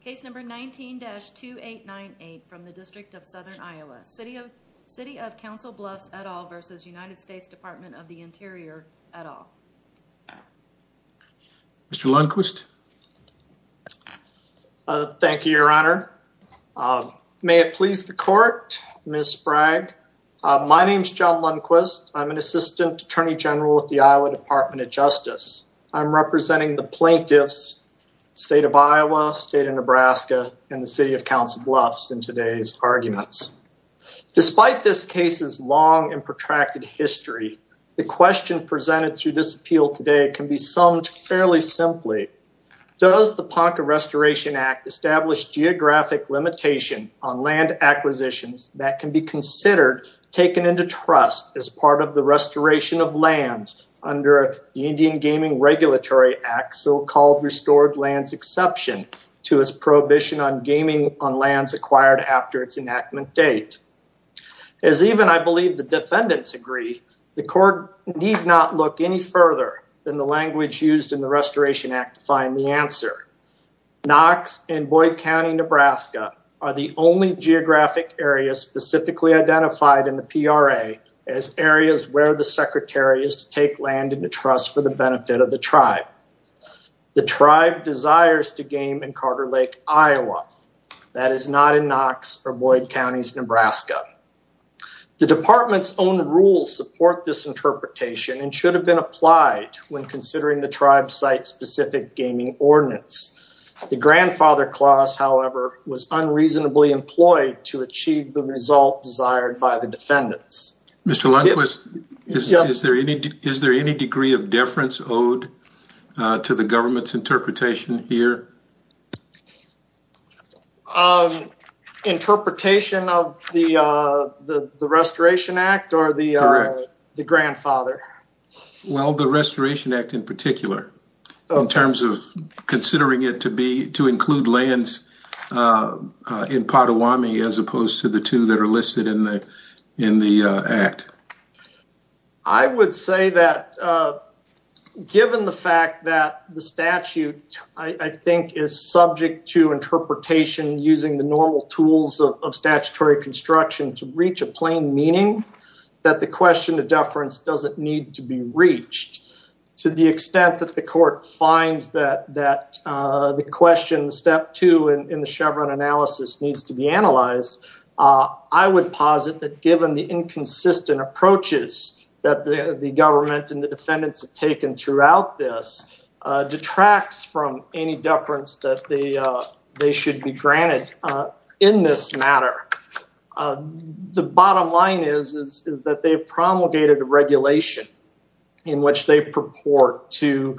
Case No. 19-2898 from the District of Southern Iowa. City of Council Bluffs et al. v. U.S. Dept. of the Interior et al. Mr. Lundquist. Thank you, Your Honor. May it please the Court, Ms. Sprague. My name is John Lundquist. I'm an Assistant Attorney General with the Iowa Department of Justice. I'm representing the plaintiffs, State of Iowa, State of Nebraska, and the City of Council Bluffs in today's arguments. Despite this case's long and protracted history, the question presented through this appeal today can be summed fairly simply. Does the Ponca Restoration Act establish geographic limitation on land acquisitions that can be considered taken into trust as part of the restoration of lands under the Indian Gaming Regulatory Act's so-called restored lands exception to its prohibition on gaming on lands acquired after its enactment date? As even I believe the defendants agree, the Court need not look any further than the language used in the Restoration Act to find the answer. Knox and Boyd County, Nebraska, are the only geographic areas specifically identified in the PRA as areas where the Secretary is to take land into trust for the benefit of the tribe. The tribe desires to game in Carter Lake, Iowa. That is not in Knox or Boyd County, Nebraska. The Department's own rules support this interpretation and should have been applied when considering the tribe's site-specific gaming ordinance. The grandfather clause, however, was unreasonably employed to achieve the result desired by the defendants. Mr. Lundquist, is there any degree of deference owed to the government's interpretation here? Interpretation of the Restoration Act or the grandfather? Well, the Restoration Act in particular in terms of considering it to include lands in Pottawamie as opposed to the two that are listed in the Act. I would say that given the fact that the statute I think is subject to interpretation using the normal tools of statutory construction to reach a plain meaning, that the question of deference doesn't need to be reached. To the extent that the court finds that the question, step two in the Chevron analysis needs to be analyzed, I would posit that given the inconsistent approaches that the government and the defendants have taken throughout this detracts from any deference that they should be granted in this matter. The bottom line is that they promulgated a regulation in which they purport to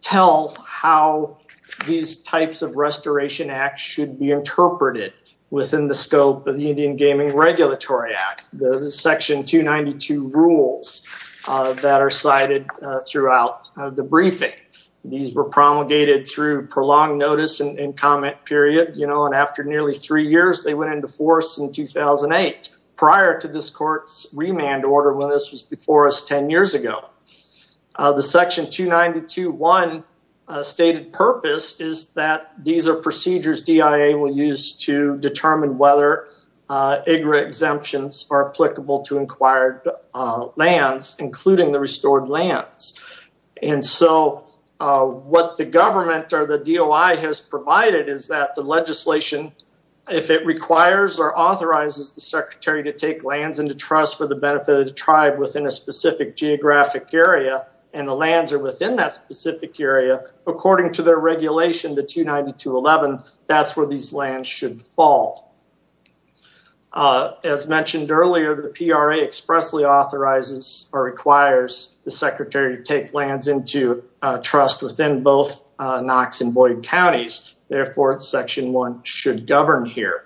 tell how these types of Restoration Acts should be interpreted within the scope of the Indian Gaming Regulatory Act, the section 292 rules that are cited throughout the briefing. These were in force in 2008 prior to this court's remand order when this was before us 10 years ago. The section 292.1 stated purpose is that these are procedures DIA will use to determine whether IGRA exemptions are applicable to acquired lands, including the restored lands. And so, what the government or the DOI has provided is that the legislation, if it requires or authorizes the secretary to take lands into trust for the benefit of the tribe within a specific geographic area, and the lands are within that specific area, according to their regulation, the 292.11, that's where these lands should fall. As mentioned earlier, the PRA expressly authorizes or requires the secretary to take lands into trust within both Knox and Boyd counties. Therefore, section 1 should govern here.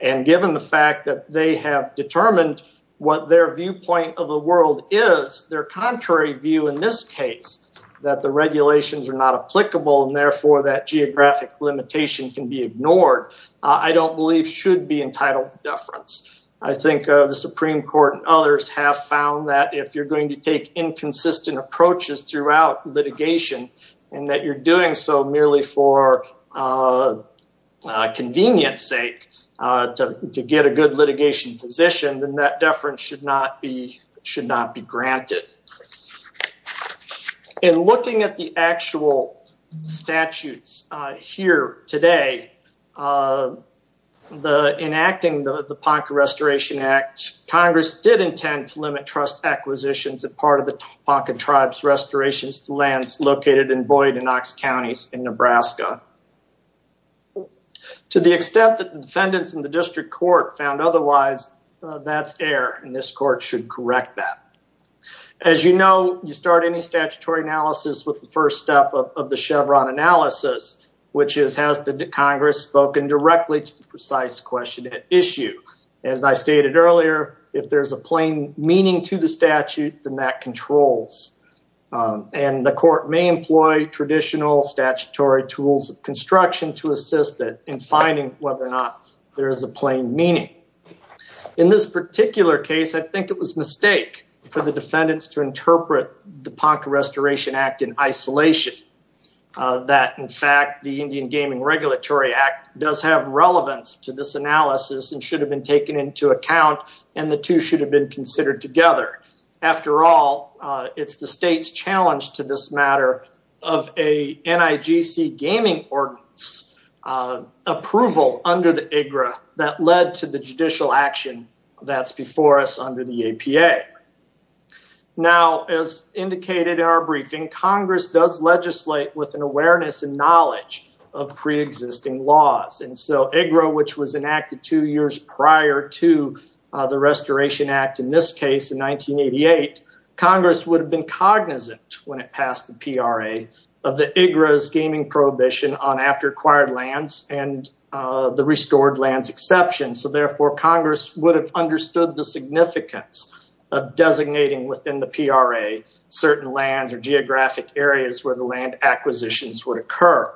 And given the fact that they have determined what their viewpoint of the world is, their contrary view in this case, that the regulations are not applicable and therefore that geographic limitation can be ignored, I don't believe should be entitled to deference. I think the Supreme Court and others have found that if you're going to take inconsistent approaches throughout litigation and that you're doing so merely for convenience sake to get a good litigation position, then that deference should not be granted. In looking at the actual statutes here today, the enacting the Ponca Restoration Act, Congress did intend to limit trust acquisitions as part of the Ponca Tribes Restorations lands located in Boyd and Knox counties in Nebraska. To the extent that defendants in the district court found otherwise, that's error and this court should correct that. As you know, you start any statutory analysis with the first step of the Chevron analysis, which is has the Congress spoken directly to the precise question at issue. As I stated earlier, if there's a plain meaning to the statute, then that controls. And the court may employ traditional statutory tools of construction to assist it in finding whether or not there is a plain meaning. In this particular case, I think it was a mistake for the defendants to interpret the Ponca Restoration Act in isolation. That in fact, the Indian Gaming Regulatory Act does have relevance to this analysis and should have been taken into account and the two should have been considered together. After all, it's the state's challenge to this matter of a NIGC Gaming Ordinance approval under the IGRA that led to the judicial action that's before us under the APA. Now, as indicated in our briefing, Congress does legislate with an awareness and knowledge of pre-existing laws. And so IGRA, which was enacted two years prior to the Restoration Act, in this case in 1988, Congress would have been cognizant when it passed the PRA of the IGRA's gaming prohibition on after acquired lands and the restored lands exception. So therefore, Congress would have understood the significance of designating within the PRA certain lands or geographic areas where the land acquisitions would occur.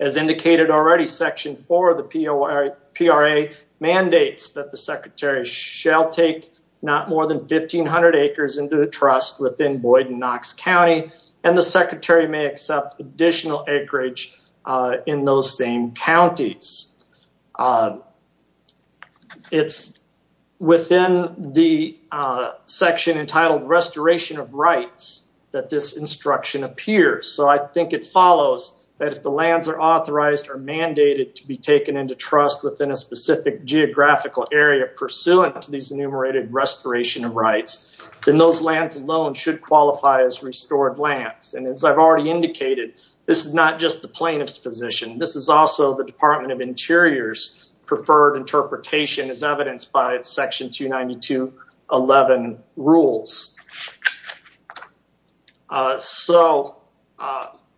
As indicated already, Section 4 of the PRA mandates that the Secretary shall take not more than 1,500 acres into the trust within Boyd and Knox County, and the Secretary may accept additional acreage in those same counties. It's within the section entitled Restoration of Rights that this instruction appears, so I think it follows that if the lands are authorized or mandated to be taken into trust within a specific geographical area pursuant to these enumerated restoration of rights, then those lands alone should qualify as restored lands. And as I've already indicated, this is not just the plaintiff's position. This is also the Department of Interior's preferred interpretation as evidenced by Section 292.11 rules. So,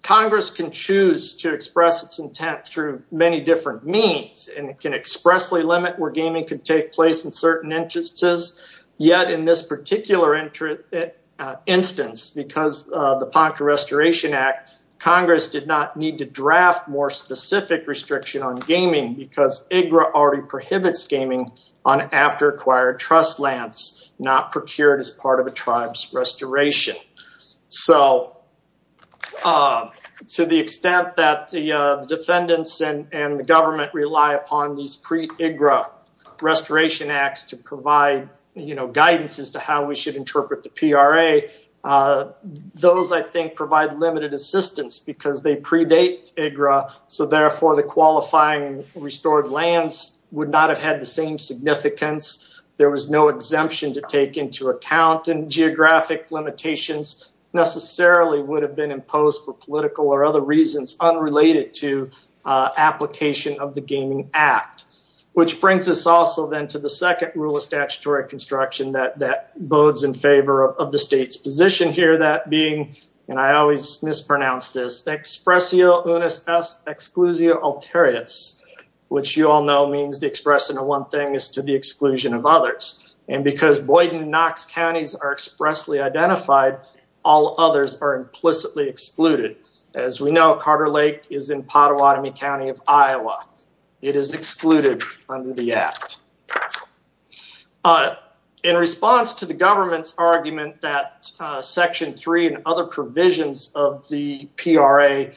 Congress can choose to express its intent through many different means, and it can expressly limit where gaming can take place in certain instances, yet in this particular instance, because of the Ponca Restoration Act, Congress did not need to draft more specific restriction on gaming because IGRA already prohibits gaming on after acquired trust lands, not procured as part of a tribe's restoration. So, to the extent that the defendants and the government rely upon these pre-IGRA restoration acts to provide guidance as to how we should interpret the PRA, those, I think, provide limited assistance because they predate IGRA, so therefore the qualifying restored lands would not have had the same significance. There was no exemption to take into account, and geographic limitations necessarily would have been imposed for political or other reasons unrelated to application of the Gaming Act, which brings us also then to the second rule of statutory construction that bodes in favor of the state's position here, that being, and I always mispronounce this, expressio unis exclusio alteriates, which you all know means to express into one thing is to the exclusion of others, and because Boyden and Knox counties are expressly identified, all others are implicitly excluded. As we know, Carter Lake is in Pottawatomie County of Iowa. It is excluded under the act. In response to the government's argument that Section 3 and other provisions of the PRA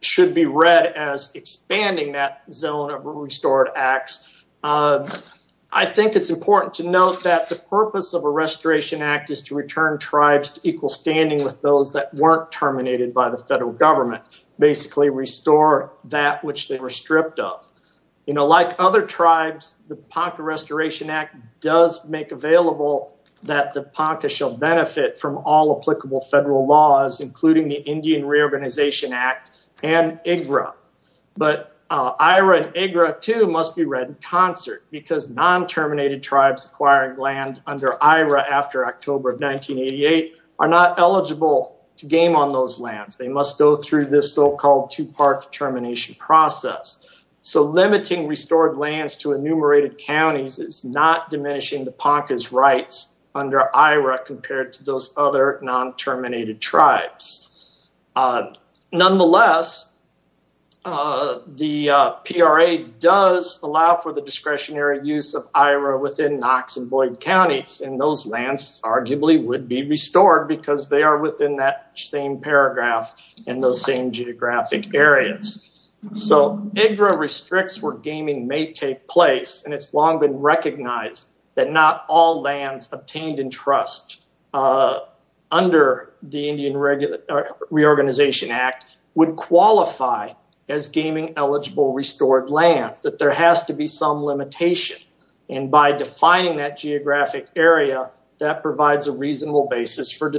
should be read as expanding that zone of restored acts, I think it's important to note that the purpose of a restoration act is to return tribes to equal standing with those that weren't terminated by the federal government, basically restore that which they were stripped of. You know, like other tribes, the Ponca Restoration Act does make available that the Ponca shall benefit from all applicable federal laws, including the Indian Reorganization Act and IGRA, but IRA and IGRA, too, must be read in concert because non-terminated tribes acquiring land under IRA after October of 1988 are not eligible to game on those lands. They must go through this so-called two-part termination process. So, limiting restored lands to enumerated counties is not diminishing the Ponca's rights under IRA compared to those other non-terminated tribes. Nonetheless, the PRA does allow for the discretionary use of IRA within Knox and Boyden counties, and those lands arguably would be restored because they are within that same paragraph in those same geographic areas. So, IGRA restricts where gaming may take place, and it's long been recognized that not all lands obtained in trust under the Indian Reorganization Act would qualify as gaming eligible restored lands, that there has to be some limitation, and by defining that geographic area, that provides a reasonable basis for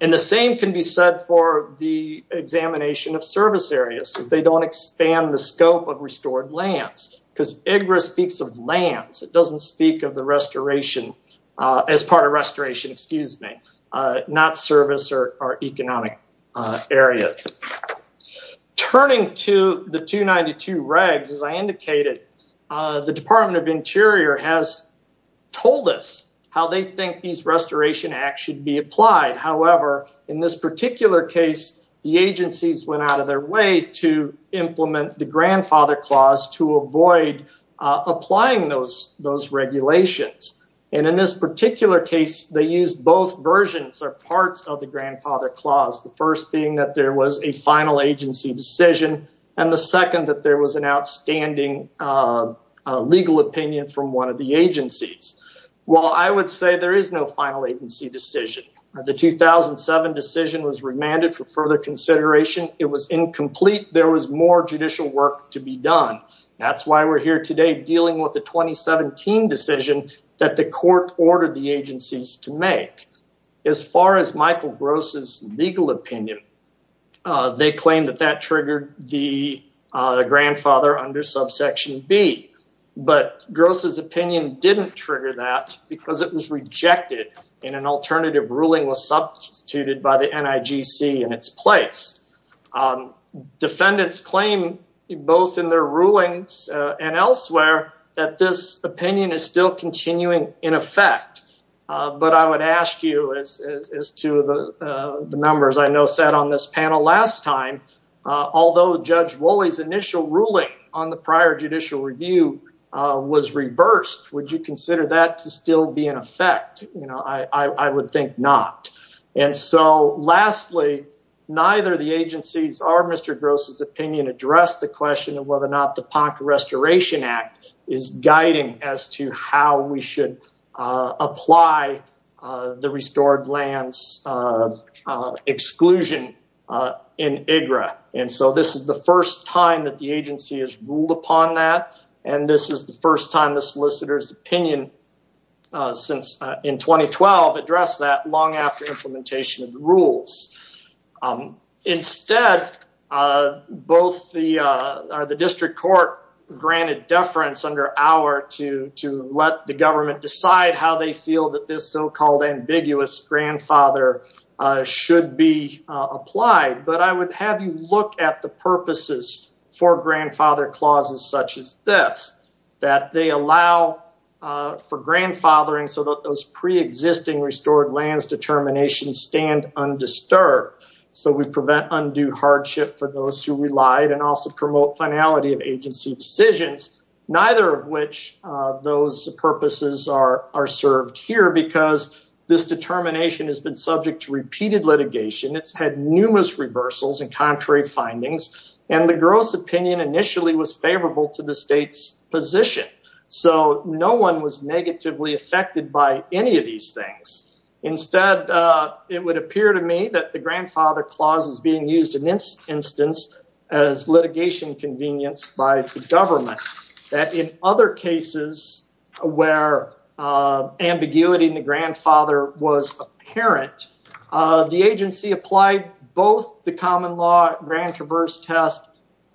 and the same can be said for the examination of service areas, because they don't expand the scope of restored lands, because IGRA speaks of lands. It doesn't speak of the restoration as part of restoration, excuse me, not service or economic area. Turning to the 292 regs, as I indicated, the Department of Interior has told us how they think these restoration acts should be applied. However, in this particular case, the agencies went out of their way to implement the Grandfather Clause to avoid applying those regulations, and in this particular case, they used both versions or parts of the Grandfather Clause, the first being that there was a final agency decision, and the second that there was an outstanding legal opinion from one of the agencies. Well, I would say there is no final agency decision. The 2007 decision was remanded for further consideration. It was incomplete. There was more judicial work to be done. That's why we're here today dealing with the 2017 decision that the court ordered the agencies to make. As far as Michael Gross's legal opinion, they claim that that triggered the Grandfather under subsection B, but Gross's opinion didn't trigger that because it was rejected and an alternative ruling was substituted by the NIGC in its place. Defendants claim both in their rulings and elsewhere that this opinion is still continuing in effect, but I would ask you, as to the numbers I know sat on this panel last time, although Judge Wolley's initial ruling on the prior judicial review was reversed, would you consider that to still be in effect? I would think not. Lastly, neither of the agencies or Mr. Gross's opinion addressed the question of whether or not the Ponca Restoration Act is guiding as to how we should apply the restored lands exclusion in IGRA. This is the first time that the agency has ruled upon that, and this is the first time the solicitor's opinion in 2012 addressed that long after implementation of the rules. Instead, both the district court granted deference under our to let the government decide how they feel that this so-called ambiguous grandfather should be applied, but I would have you look at the purposes for grandfather clauses such as this, that they allow for grandfathering so that those pre-existing restored lands determinations stand undisturbed, so we prevent undue hardship for those who relied, and also promote finality of agency decisions, neither of which those purposes are served here because this determination has been subject to repeated litigation. It's had numerous reversals and contrary findings, and the gross opinion initially was favorable to the state's position, so no one was negatively affected by any of these things. Instead, it would appear to me that the grandfather clause is being used in this instance as litigation convenience by the government, that in other cases where ambiguity in the grandfather was apparent, the agency applied both the common law Grand Traverse test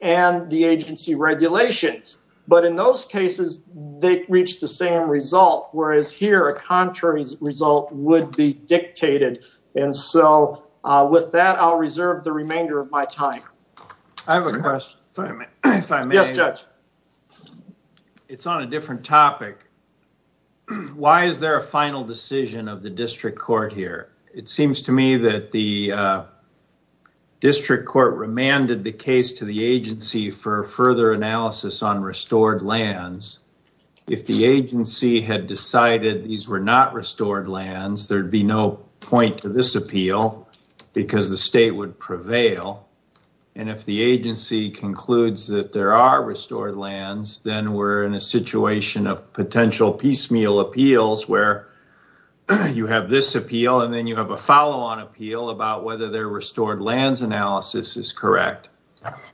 and the agency regulations, but in those cases, they reached the same result, whereas here, a contrary result would be dictated, and so with that, I'll reserve the remainder of my time. I have a question if I may. Yes, Judge. It's on a different topic. Why is there a final decision of the district court here? It seems to me that the district court remanded the case to the agency for further analysis on restored lands. If the agency had decided these were not restored lands, there'd be no point to this appeal because the state would conclude that there are restored lands, then we're in a situation of potential piecemeal appeals where you have this appeal, and then you have a follow-on appeal about whether their restored lands analysis is correct,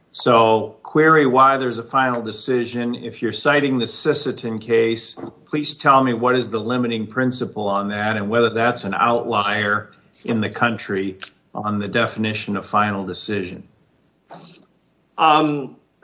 so query why there's a final decision. If you're citing the Sisseton case, please tell me what is the limiting principle on that and whether that's an outlier in the country on the definition of final decision.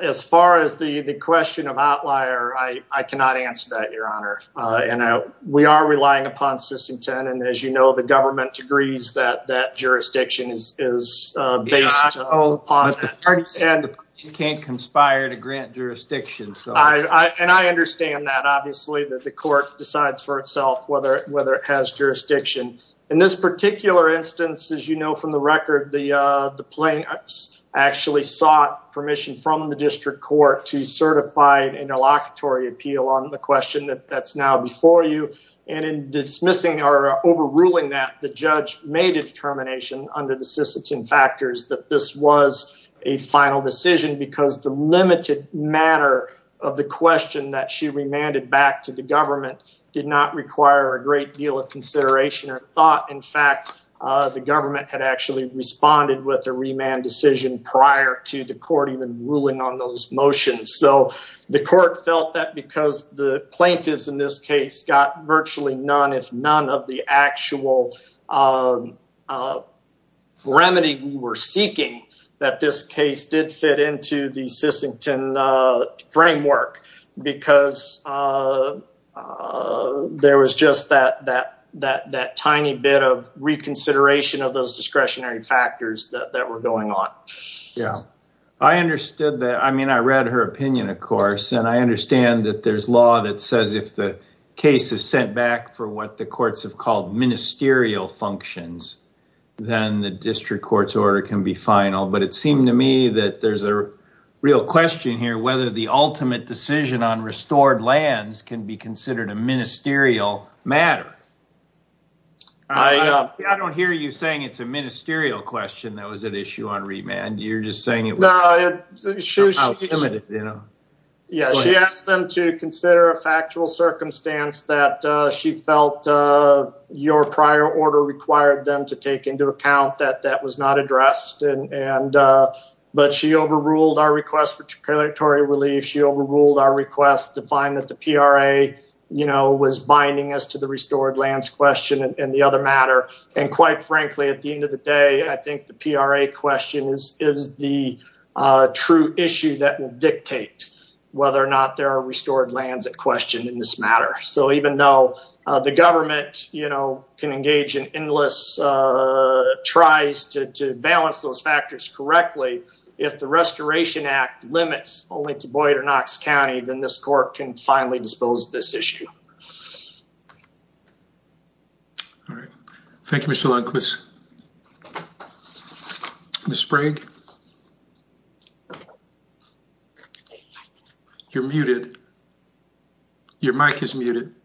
As far as the question of outlier, I cannot answer that, Your Honor, and we are relying upon Sisseton, and as you know, the government agrees that that jurisdiction is based on that. But the parties can't conspire to grant jurisdiction, so... I understand that, obviously, that the court decides for itself whether it has jurisdiction, and this particular instance, as you know from the record, the plaintiffs actually sought permission from the district court to certify an interlocutory appeal on the question that's now before you, and in dismissing or overruling that, the judge made a determination under the Sisseton factors that this was a final decision because the limited manner of the question that she remanded back to the government did not require a great deal of consideration or thought. In fact, the government had actually responded with a remand decision prior to the court even ruling on those motions, so the court felt that because the plaintiffs in this case got virtually none, if none, of the actual remedy we were seeking, that this case did fit into the Sisseton framework because there was just that tiny bit of reconsideration of those discretionary factors that were going on. Yeah, I understood that. I mean, I read her opinion, of course, and I understand that there's law that says if the case is sent back for what the courts have called ministerial functions, then the district court's order can be final, but it seemed to me that there's a real question here whether the ultimate decision on restored lands can be considered a ministerial matter. I don't hear you saying it's a ministerial question that was at issue on remand, you're just saying it was somehow limited. Yeah, she asked them to consider a factual circumstance that she felt your prior order required them to take into account that that overruled our request for regulatory relief, she overruled our request to find that the PRA was binding as to the restored lands question and the other matter, and quite frankly, at the end of the day, I think the PRA question is the true issue that will dictate whether or not there are restored lands at question in this matter. So even though the government can engage in endless tries to balance those factors correctly, if the Restoration Act limits only to Boyd or Knox County, then this court can finally dispose of this issue. All right. Thank you, Mr. Lundquist. Ms. Sprague? You're muted. Your mic is muted.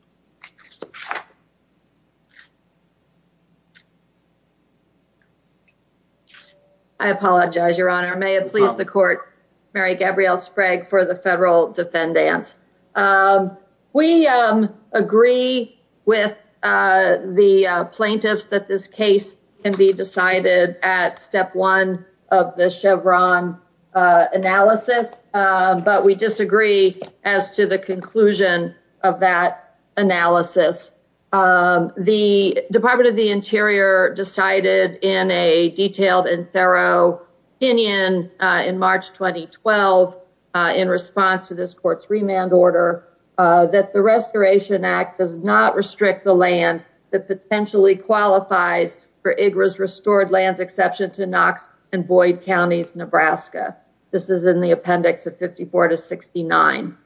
I apologize, Your Honor. May it please the court, Mary Gabrielle Sprague for the federal defendants. We agree with the plaintiffs that this case can be decided at step one of the Chevron analysis, but we disagree as to the conclusion of that analysis. The Department of the Interior decided in a detailed and thorough opinion in March 2012 in response to this court's remand order that the Restoration Act does not restrict the land that potentially qualifies for IGRA's restored lands exception to Knox and Boyd Counties, Nebraska. This is in the appendix of 54 to 69.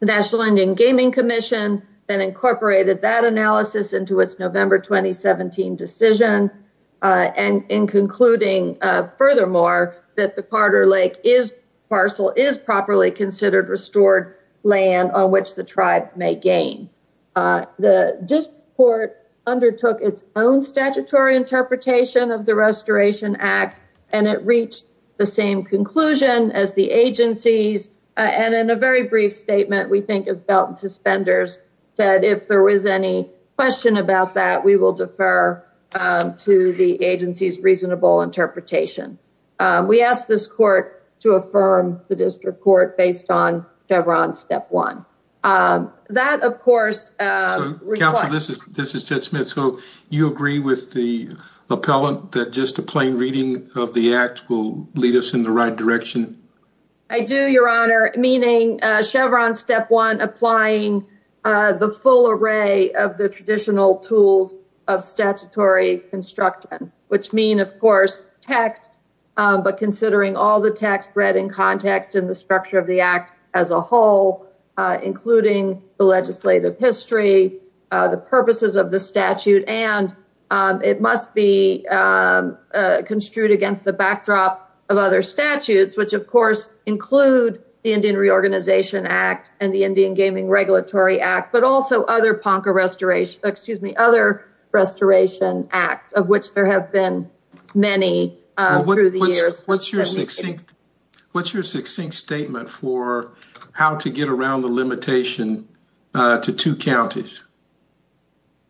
The National Indian Gaming Commission then incorporated that analysis into its November 2017 decision, and in concluding, furthermore, that the Carter Lake parcel is properly considered restored land on which the tribe may gain. The district court undertook its own statutory interpretation of the Restoration Act, and it reached the same conclusion as the agencies, and in a very brief statement, we think, as belt and suspenders said, if there was any question about that, we will defer to the agency's reasonable interpretation. We ask this court to affirm the district court based on Chevron step one. That, of course, So counsel, this is this is Judge Smith, so you agree with the appellant that just a plain reading of the act will lead us in the right direction? I do, your honor, meaning Chevron step one, applying the full array of the traditional tools of statutory construction, which mean, of course, text, but considering all the text read in context in the structure of the act as a whole, including the legislative history, the purposes of the statute, and it must be construed against the backdrop of other statutes, which, of course, include the Indian Reorganization Act and the Indian Gaming Regulatory Act, but also other Ponca Restoration, excuse me, other Restoration Act, of which there have been many through the years. What's your succinct statement for how to get around the limitation to two counties?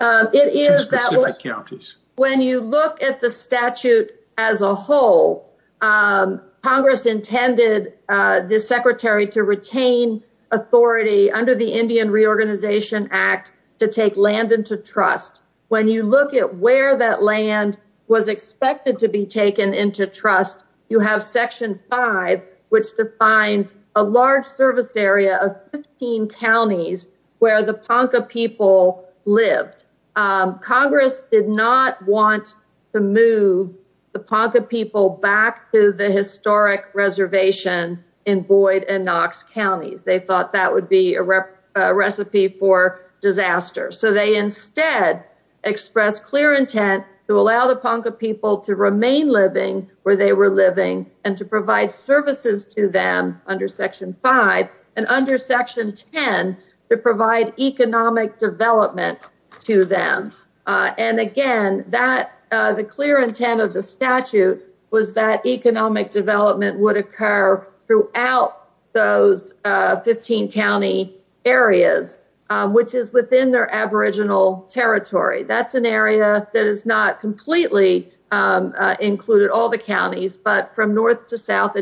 It is that when you look at the statute as a whole, Congress intended the secretary to retain authority under the Indian Reorganization Act to take land into trust. When you look at where that land was expected to be taken into trust, you have section five, which defines a large service area of 15 counties where the Ponca people lived. Congress did not want to move the Ponca people back to the historic reservation in Boyd and Knox counties. They thought that would be a recipe for disaster. So they instead expressed clear intent to allow the Ponca people to remain living where they were living and to allow economic development to them. Again, the clear intent of the statute was that economic development would occur throughout those 15 county areas, which is within their aboriginal territory. That's an area that is not completely included all the counties, but from north to south.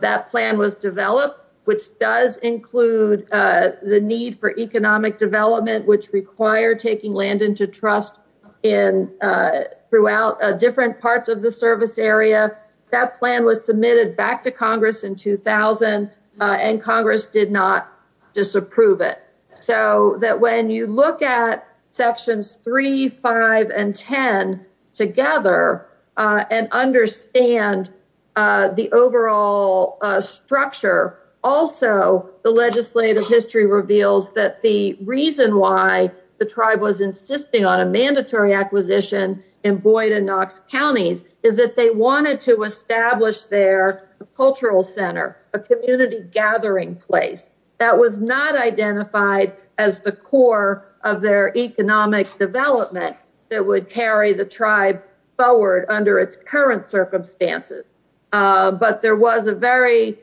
That plan was developed, which does include the need for economic development, which required taking land into trust throughout different parts of the service area. That plan was submitted back to Congress in 2000, and Congress did not disapprove it. So that when you look at sections three, five, and 10 together and understand the overall structure, also the legislative history reveals that the reason why the tribe was insisting on a mandatory acquisition in Boyd and Knox counties is that they wanted to establish their cultural center, a community gathering place that was not identified as the core of their economic development that would carry the tribe forward under its current circumstances. But there was a very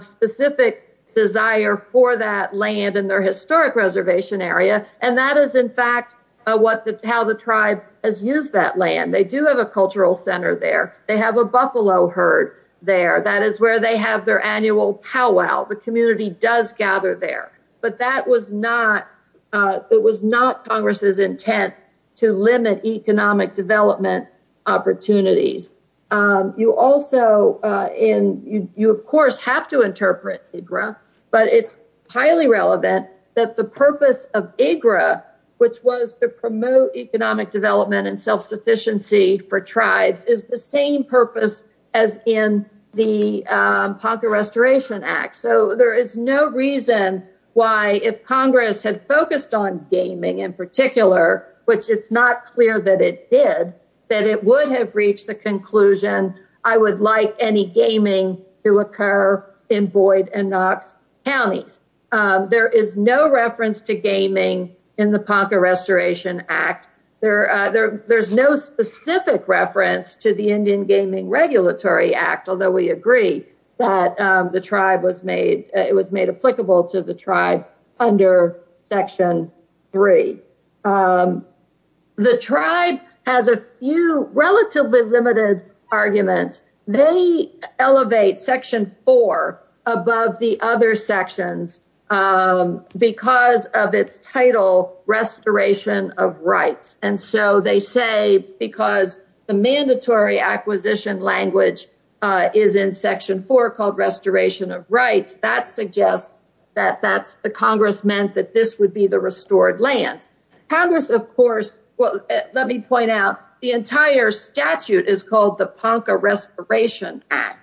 specific desire for that land in their historic reservation area, and that is in fact how the tribe has used that land. They do have a cultural center there. They have a buffalo herd there. That is where they have their annual powwow. The community does gather there, but that was not Congress's intent to limit economic development opportunities. You also, and you of course have to interpret IGRA, but it's highly relevant that the purpose of IGRA, which was to promote economic development and self-sufficiency for tribes, is the same purpose as in the Ponca Restoration Act. So there is no reason why if Congress had focused on gaming in particular, which it's not clear that it did, that it would have reached the conclusion, I would like any gaming to occur in Boyd and Knox counties. There is no reference to gaming in the Ponca Restoration Act. There's no specific reference to the Indian Gaming Regulatory Act, although we agree that the tribe was made, it was made applicable to the tribe under Section 3. The tribe has a few relatively limited arguments. They elevate Section 4 above the other sections because of its title Restoration of Rights. And so they say because the mandatory acquisition language is in Section 4 called Restoration of Rights, that suggests that the Congress meant that this would be the restored land. Congress of course, well let me point out, the entire statute is called the Ponca Restoration Act.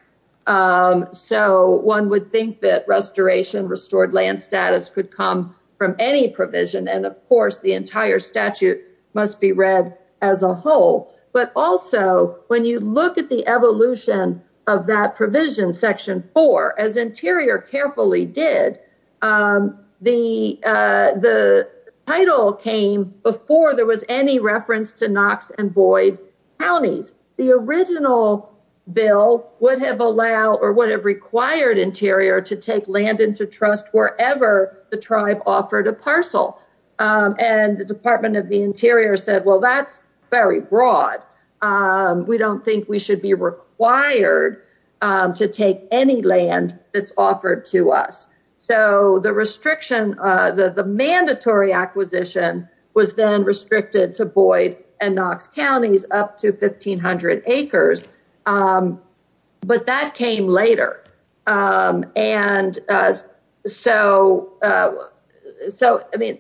So one would think that restoration restored land status could come from any provision and of course the entire statute must be read as a whole. But also when you look at the evolution of that provision, Section 4, as Interior carefully did, the title came before there was any reference to Knox and Boyd counties. The original bill would have allowed or would have required Interior to take land into trust wherever the tribe offered a parcel. And the Department of the Interior said, well that's very broad. We don't think we should be required to take any land that's offered to us. So the restriction, the mandatory acquisition was then restricted to Boyd and Knox counties up to 1,500 acres. But that came later. And so I mean,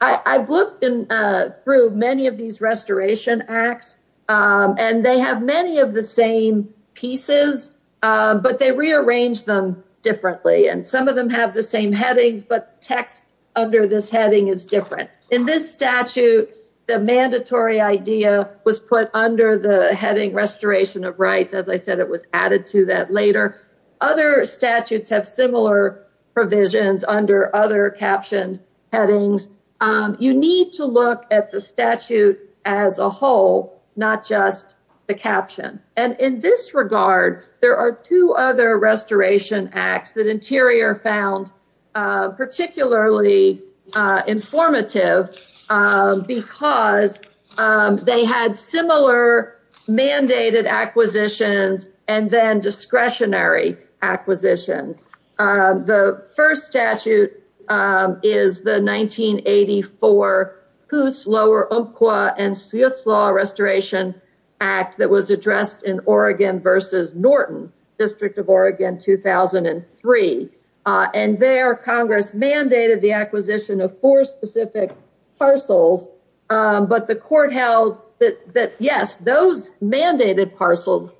I've looked through many of these restoration acts and they have many of the same pieces, but they rearrange them differently. And some of them have the same headings, but text under this heading is different. In this statute, the mandatory idea was put under the added to that later. Other statutes have similar provisions under other captioned headings. You need to look at the statute as a whole, not just the caption. And in this regard, there are two other restoration acts that Interior found particularly informative because they had similar mandated acquisitions and then discretionary acquisitions. The first statute is the 1984 Hoos, Lower Umpqua, and Seuss Law Restoration Act that was addressed in Oregon versus Norton, District of Oregon, 2003. And there Congress mandated the acquisition of four specific parcels, but the court held that yes, those mandated parcels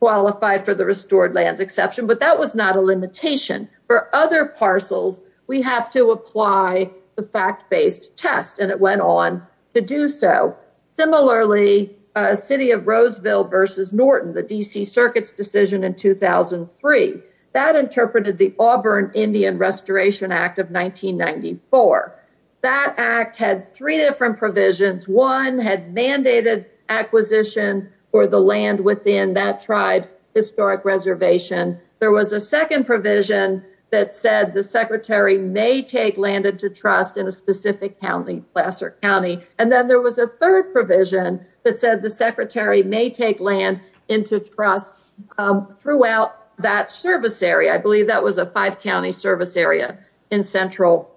qualified for the restored lands exception, but that was not a limitation. For other parcels, we have to apply the fact-based test and it went on to do so. Similarly, City of Roseville versus Norton, the D.C. Circuit's decision in 2003, that interpreted the Auburn Indian Restoration Act of 1994. That act had three different provisions. One had mandated acquisition for the land within that tribe's historic reservation. There was a second provision that said the secretary may take land into trust in a specific county, and then there was a third provision that said the secretary may take land into trust throughout that service area. I believe that was a five-county service area in Central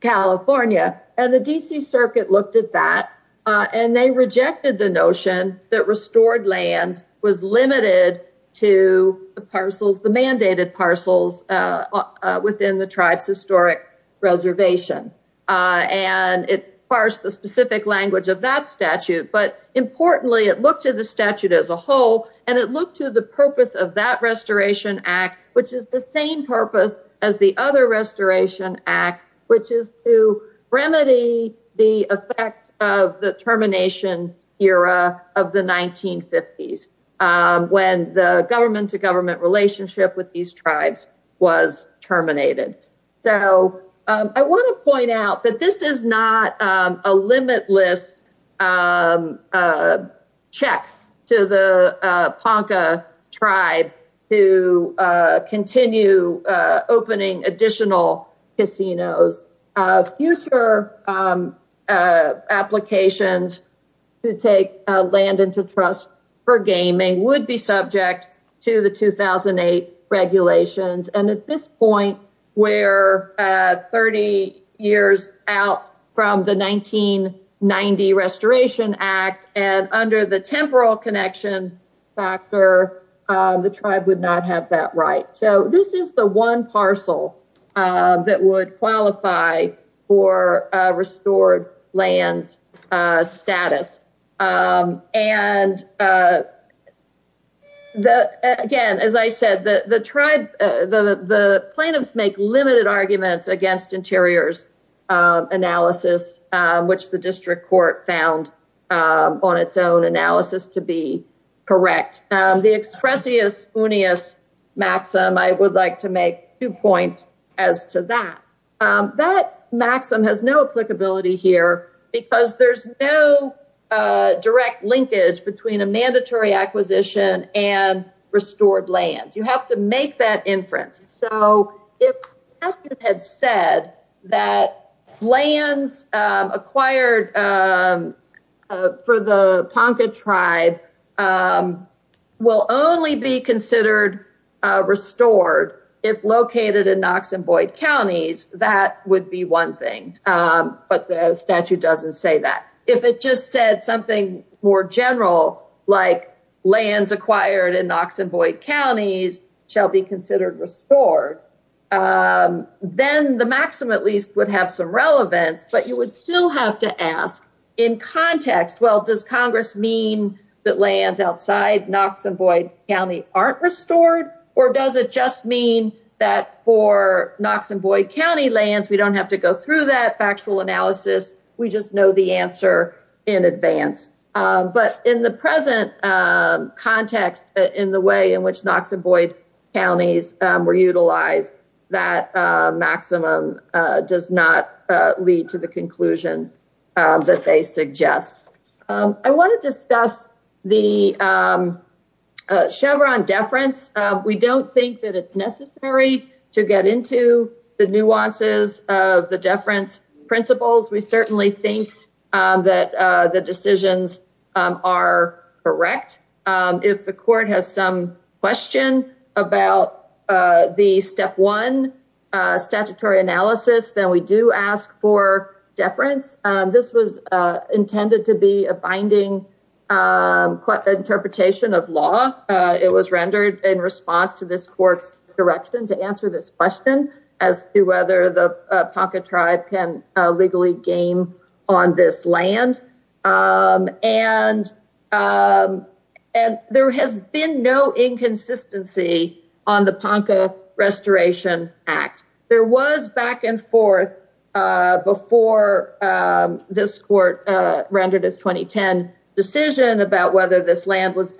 California, and the D.C. Circuit looked at that and they rejected the notion that restored lands was limited to the parcels, the mandated parcels within the tribe's historic reservation. And it parsed the specific language of that statute, but importantly, it looked at the statute as a whole and it looked to the purpose of that restoration act, which is the same purpose as the other restoration act, which is to remedy the effect of the termination era of the 1950s when the government-to-government relationship with these I want to point out that this is not a limitless check to the Ponca tribe to continue opening additional casinos. Future applications to take land into trust for gaming would be subject to the 2008 regulations, and at this point, we're 30 years out from the 1990 restoration act, and under the temporal connection factor, the tribe would not have that right. So this is the one parcel that would plaintiffs make limited arguments against interiors analysis, which the district court found on its own analysis to be correct. The expressius unius maxim, I would like to make two points as to that. That maxim has no applicability here because there's no direct linkage between a So if the statute had said that lands acquired for the Ponca tribe will only be considered restored if located in Knox and Boyd counties, that would be one thing, but the statute doesn't say that. If it just said something more general, like lands acquired in Knox and Boyd counties shall be considered restored, then the maxim at least would have some relevance, but you would still have to ask in context, well, does Congress mean that lands outside Knox and Boyd county aren't restored, or does it just mean that for Knox and Boyd county lands, we don't have to go through that factual analysis. We just know the answer in advance. But in the present context, in the way in which Knox and Boyd counties were utilized, that maximum does not lead to the conclusion that they suggest. I want to discuss the Chevron deference. We don't think that it's necessary to get into the nuances of the deference principles. We certainly think that the decisions are correct. If the court has some question about the step one statutory analysis, then we do ask for deference. This was intended to be a binding interpretation of law. It was rendered in response to this court's direction to answer this question as to whether the Ponca tribe can legally gain on this land. And there has been no inconsistency on the Ponca Restoration Act. There was back and forth before this court rendered its 2010 decision about whether this act. The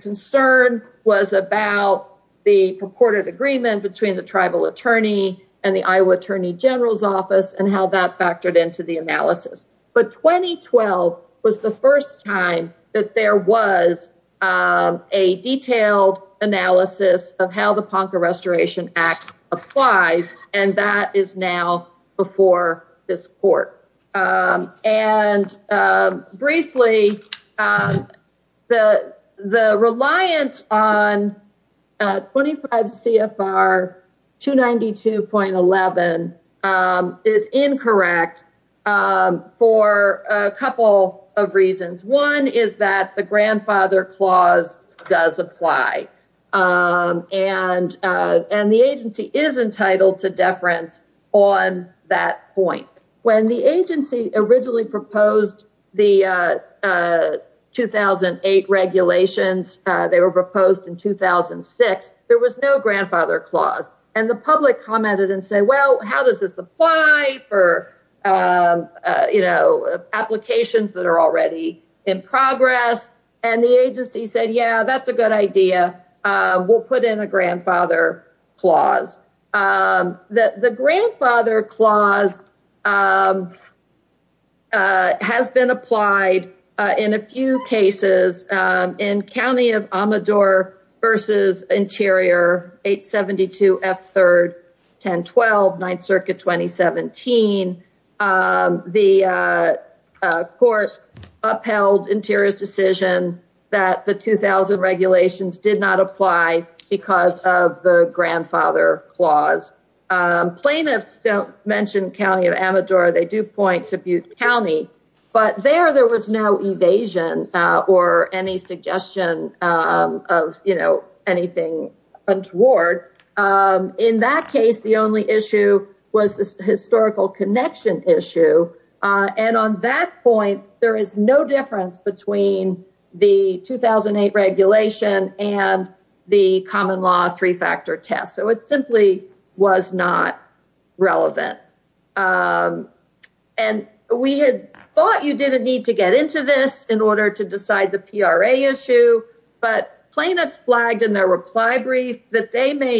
concern was about the purported agreement between the tribal attorney and the Iowa attorney general's office and how that factored into the analysis. But 2012 was the first time that there was a detailed analysis of how the Ponca Restoration Act applies, and that is now before this court. And briefly, the reliance on 25 CFR 292.11 is incorrect for a couple of reasons. One is that the grandfather clause does apply. And the agency is entitled to deference on that point. When the agency originally proposed the 2008 regulations, they were proposed in 2006, there was no grandfather clause. And the public commented and said, well, how does this apply for, you know, applications that are already in progress? And the agency said, yeah, that's a good idea. We'll put in a grandfather clause. The grandfather clause has been applied in a few cases. In 2017, the court upheld Interior's decision that the 2000 regulations did not apply because of the grandfather clause. Plaintiffs don't mention County of Amador, they do point to Butte County. But there, there was no evasion or any suggestion of, you know, anything untoward. In that case, the only issue was the historical connection issue. And on that point, there is no difference between the 2008 regulation and the common law three-factor test. So it simply was not relevant. And we had thought you didn't need to get into this in order to decide the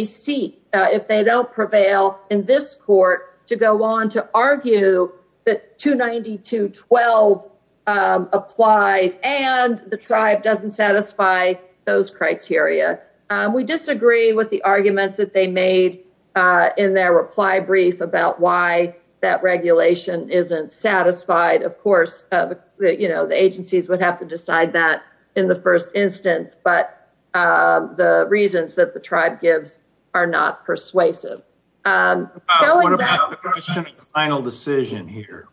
seat if they don't prevail in this court to go on to argue that 292.12 applies and the tribe doesn't satisfy those criteria. We disagree with the arguments that they made in their reply brief about why that regulation isn't satisfied. Of course, you know, the agencies would have to are not persuasive. What about the question of final decision here?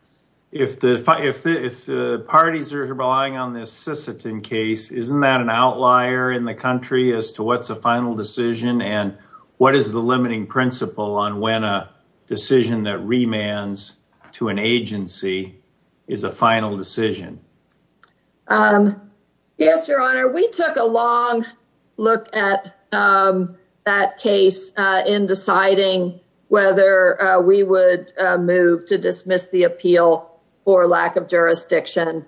If the parties are relying on this Sisseton case, isn't that an outlier in the country as to what's a final decision? And what is the limiting principle on when a decision that remands to an agency is a final decision? Yes, Your Honor, we took a long look at that case in deciding whether we would move to dismiss the appeal for lack of jurisdiction.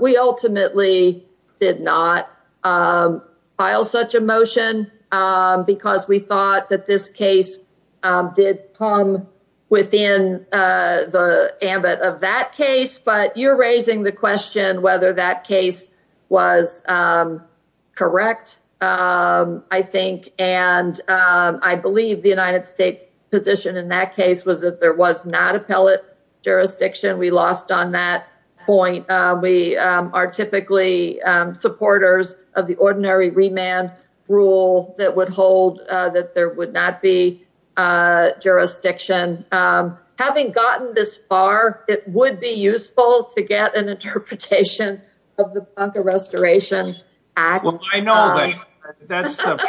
We ultimately did not file such a motion because we thought that this case did come within the ambit of that case. But you're raising the question whether that case was correct, I think. And I believe the United States position in that case was that there was not appellate jurisdiction. We lost on that point. We are typically supporters of the not be jurisdiction. Having gotten this far, it would be useful to get an interpretation of the restoration act. Well, I know that that's the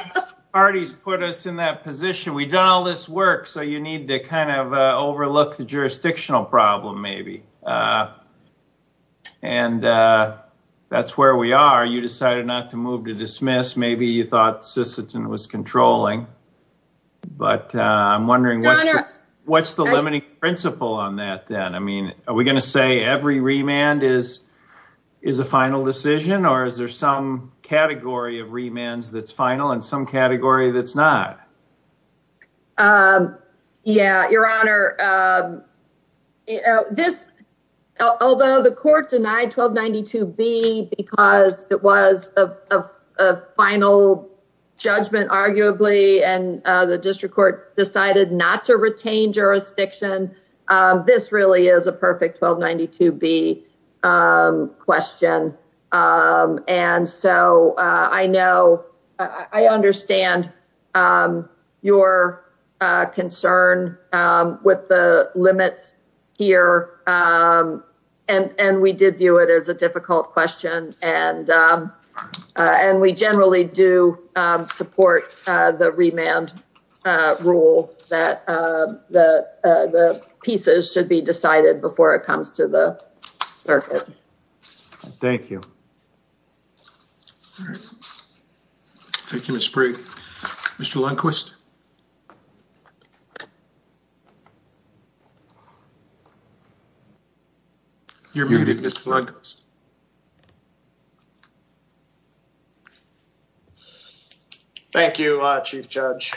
parties put us in that position. We've done all this work. So you need to kind of overlook the jurisdictional problem, maybe. And that's where we are. You decided not to move to dismiss. Maybe you thought Sisseton was controlling. But I'm wondering what's the limiting principle on that then? Are we going to say every remand is a final decision? Or is there some category of remands that's final and some category that's not? Yeah, Your Honor. Although the court denied 1292B because it was a final judgment, arguably, and the district court decided not to retain jurisdiction, this really is a perfect 1292B question. And so I I understand your concern with the limits here. And we did view it as a difficult question. And we generally do support the remand rule that the pieces should be decided before it comes to the court. Thank you. Thank you, Mr. Lundquist. Thank you, Chief Judge.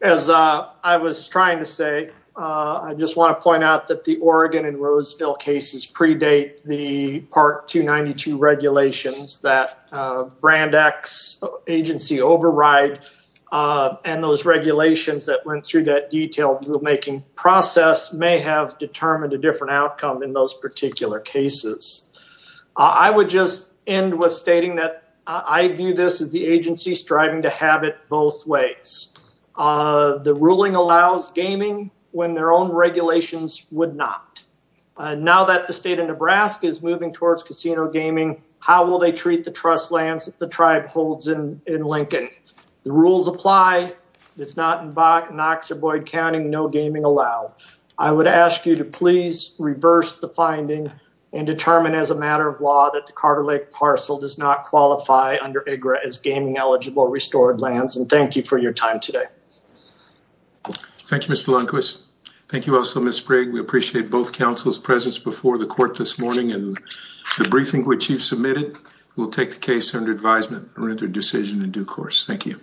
As I was trying to say, I just want to point out that the Oregon and the state and the federal government do not aggredate the part 292 regulations that brand X agency override. And those regulations that went through that detailed rulemaking process may have determined a different outcome in those particular cases. I would just end with stating that I view this as the agency striving to have it both ways. The ruling allows gaming when their own regulations would not. Now that the state of Nebraska is moving towards casino gaming, how will they treat the trust lands that the tribe holds in Lincoln? The rules apply. It's not in Knox or Boyd County. No gaming allowed. I would ask you to please reverse the finding and determine as a matter of law that the Carter Lake parcel does not qualify under IGRA as gaming eligible restored lands. And thank you for your time today. Thank you, Mr. Lundquist. Thank you also, Ms. Sprigg. We appreciate both counsel's presence before the court this morning and the briefing which you've submitted. We'll take the case under advisement or into decision in due course. Thank you.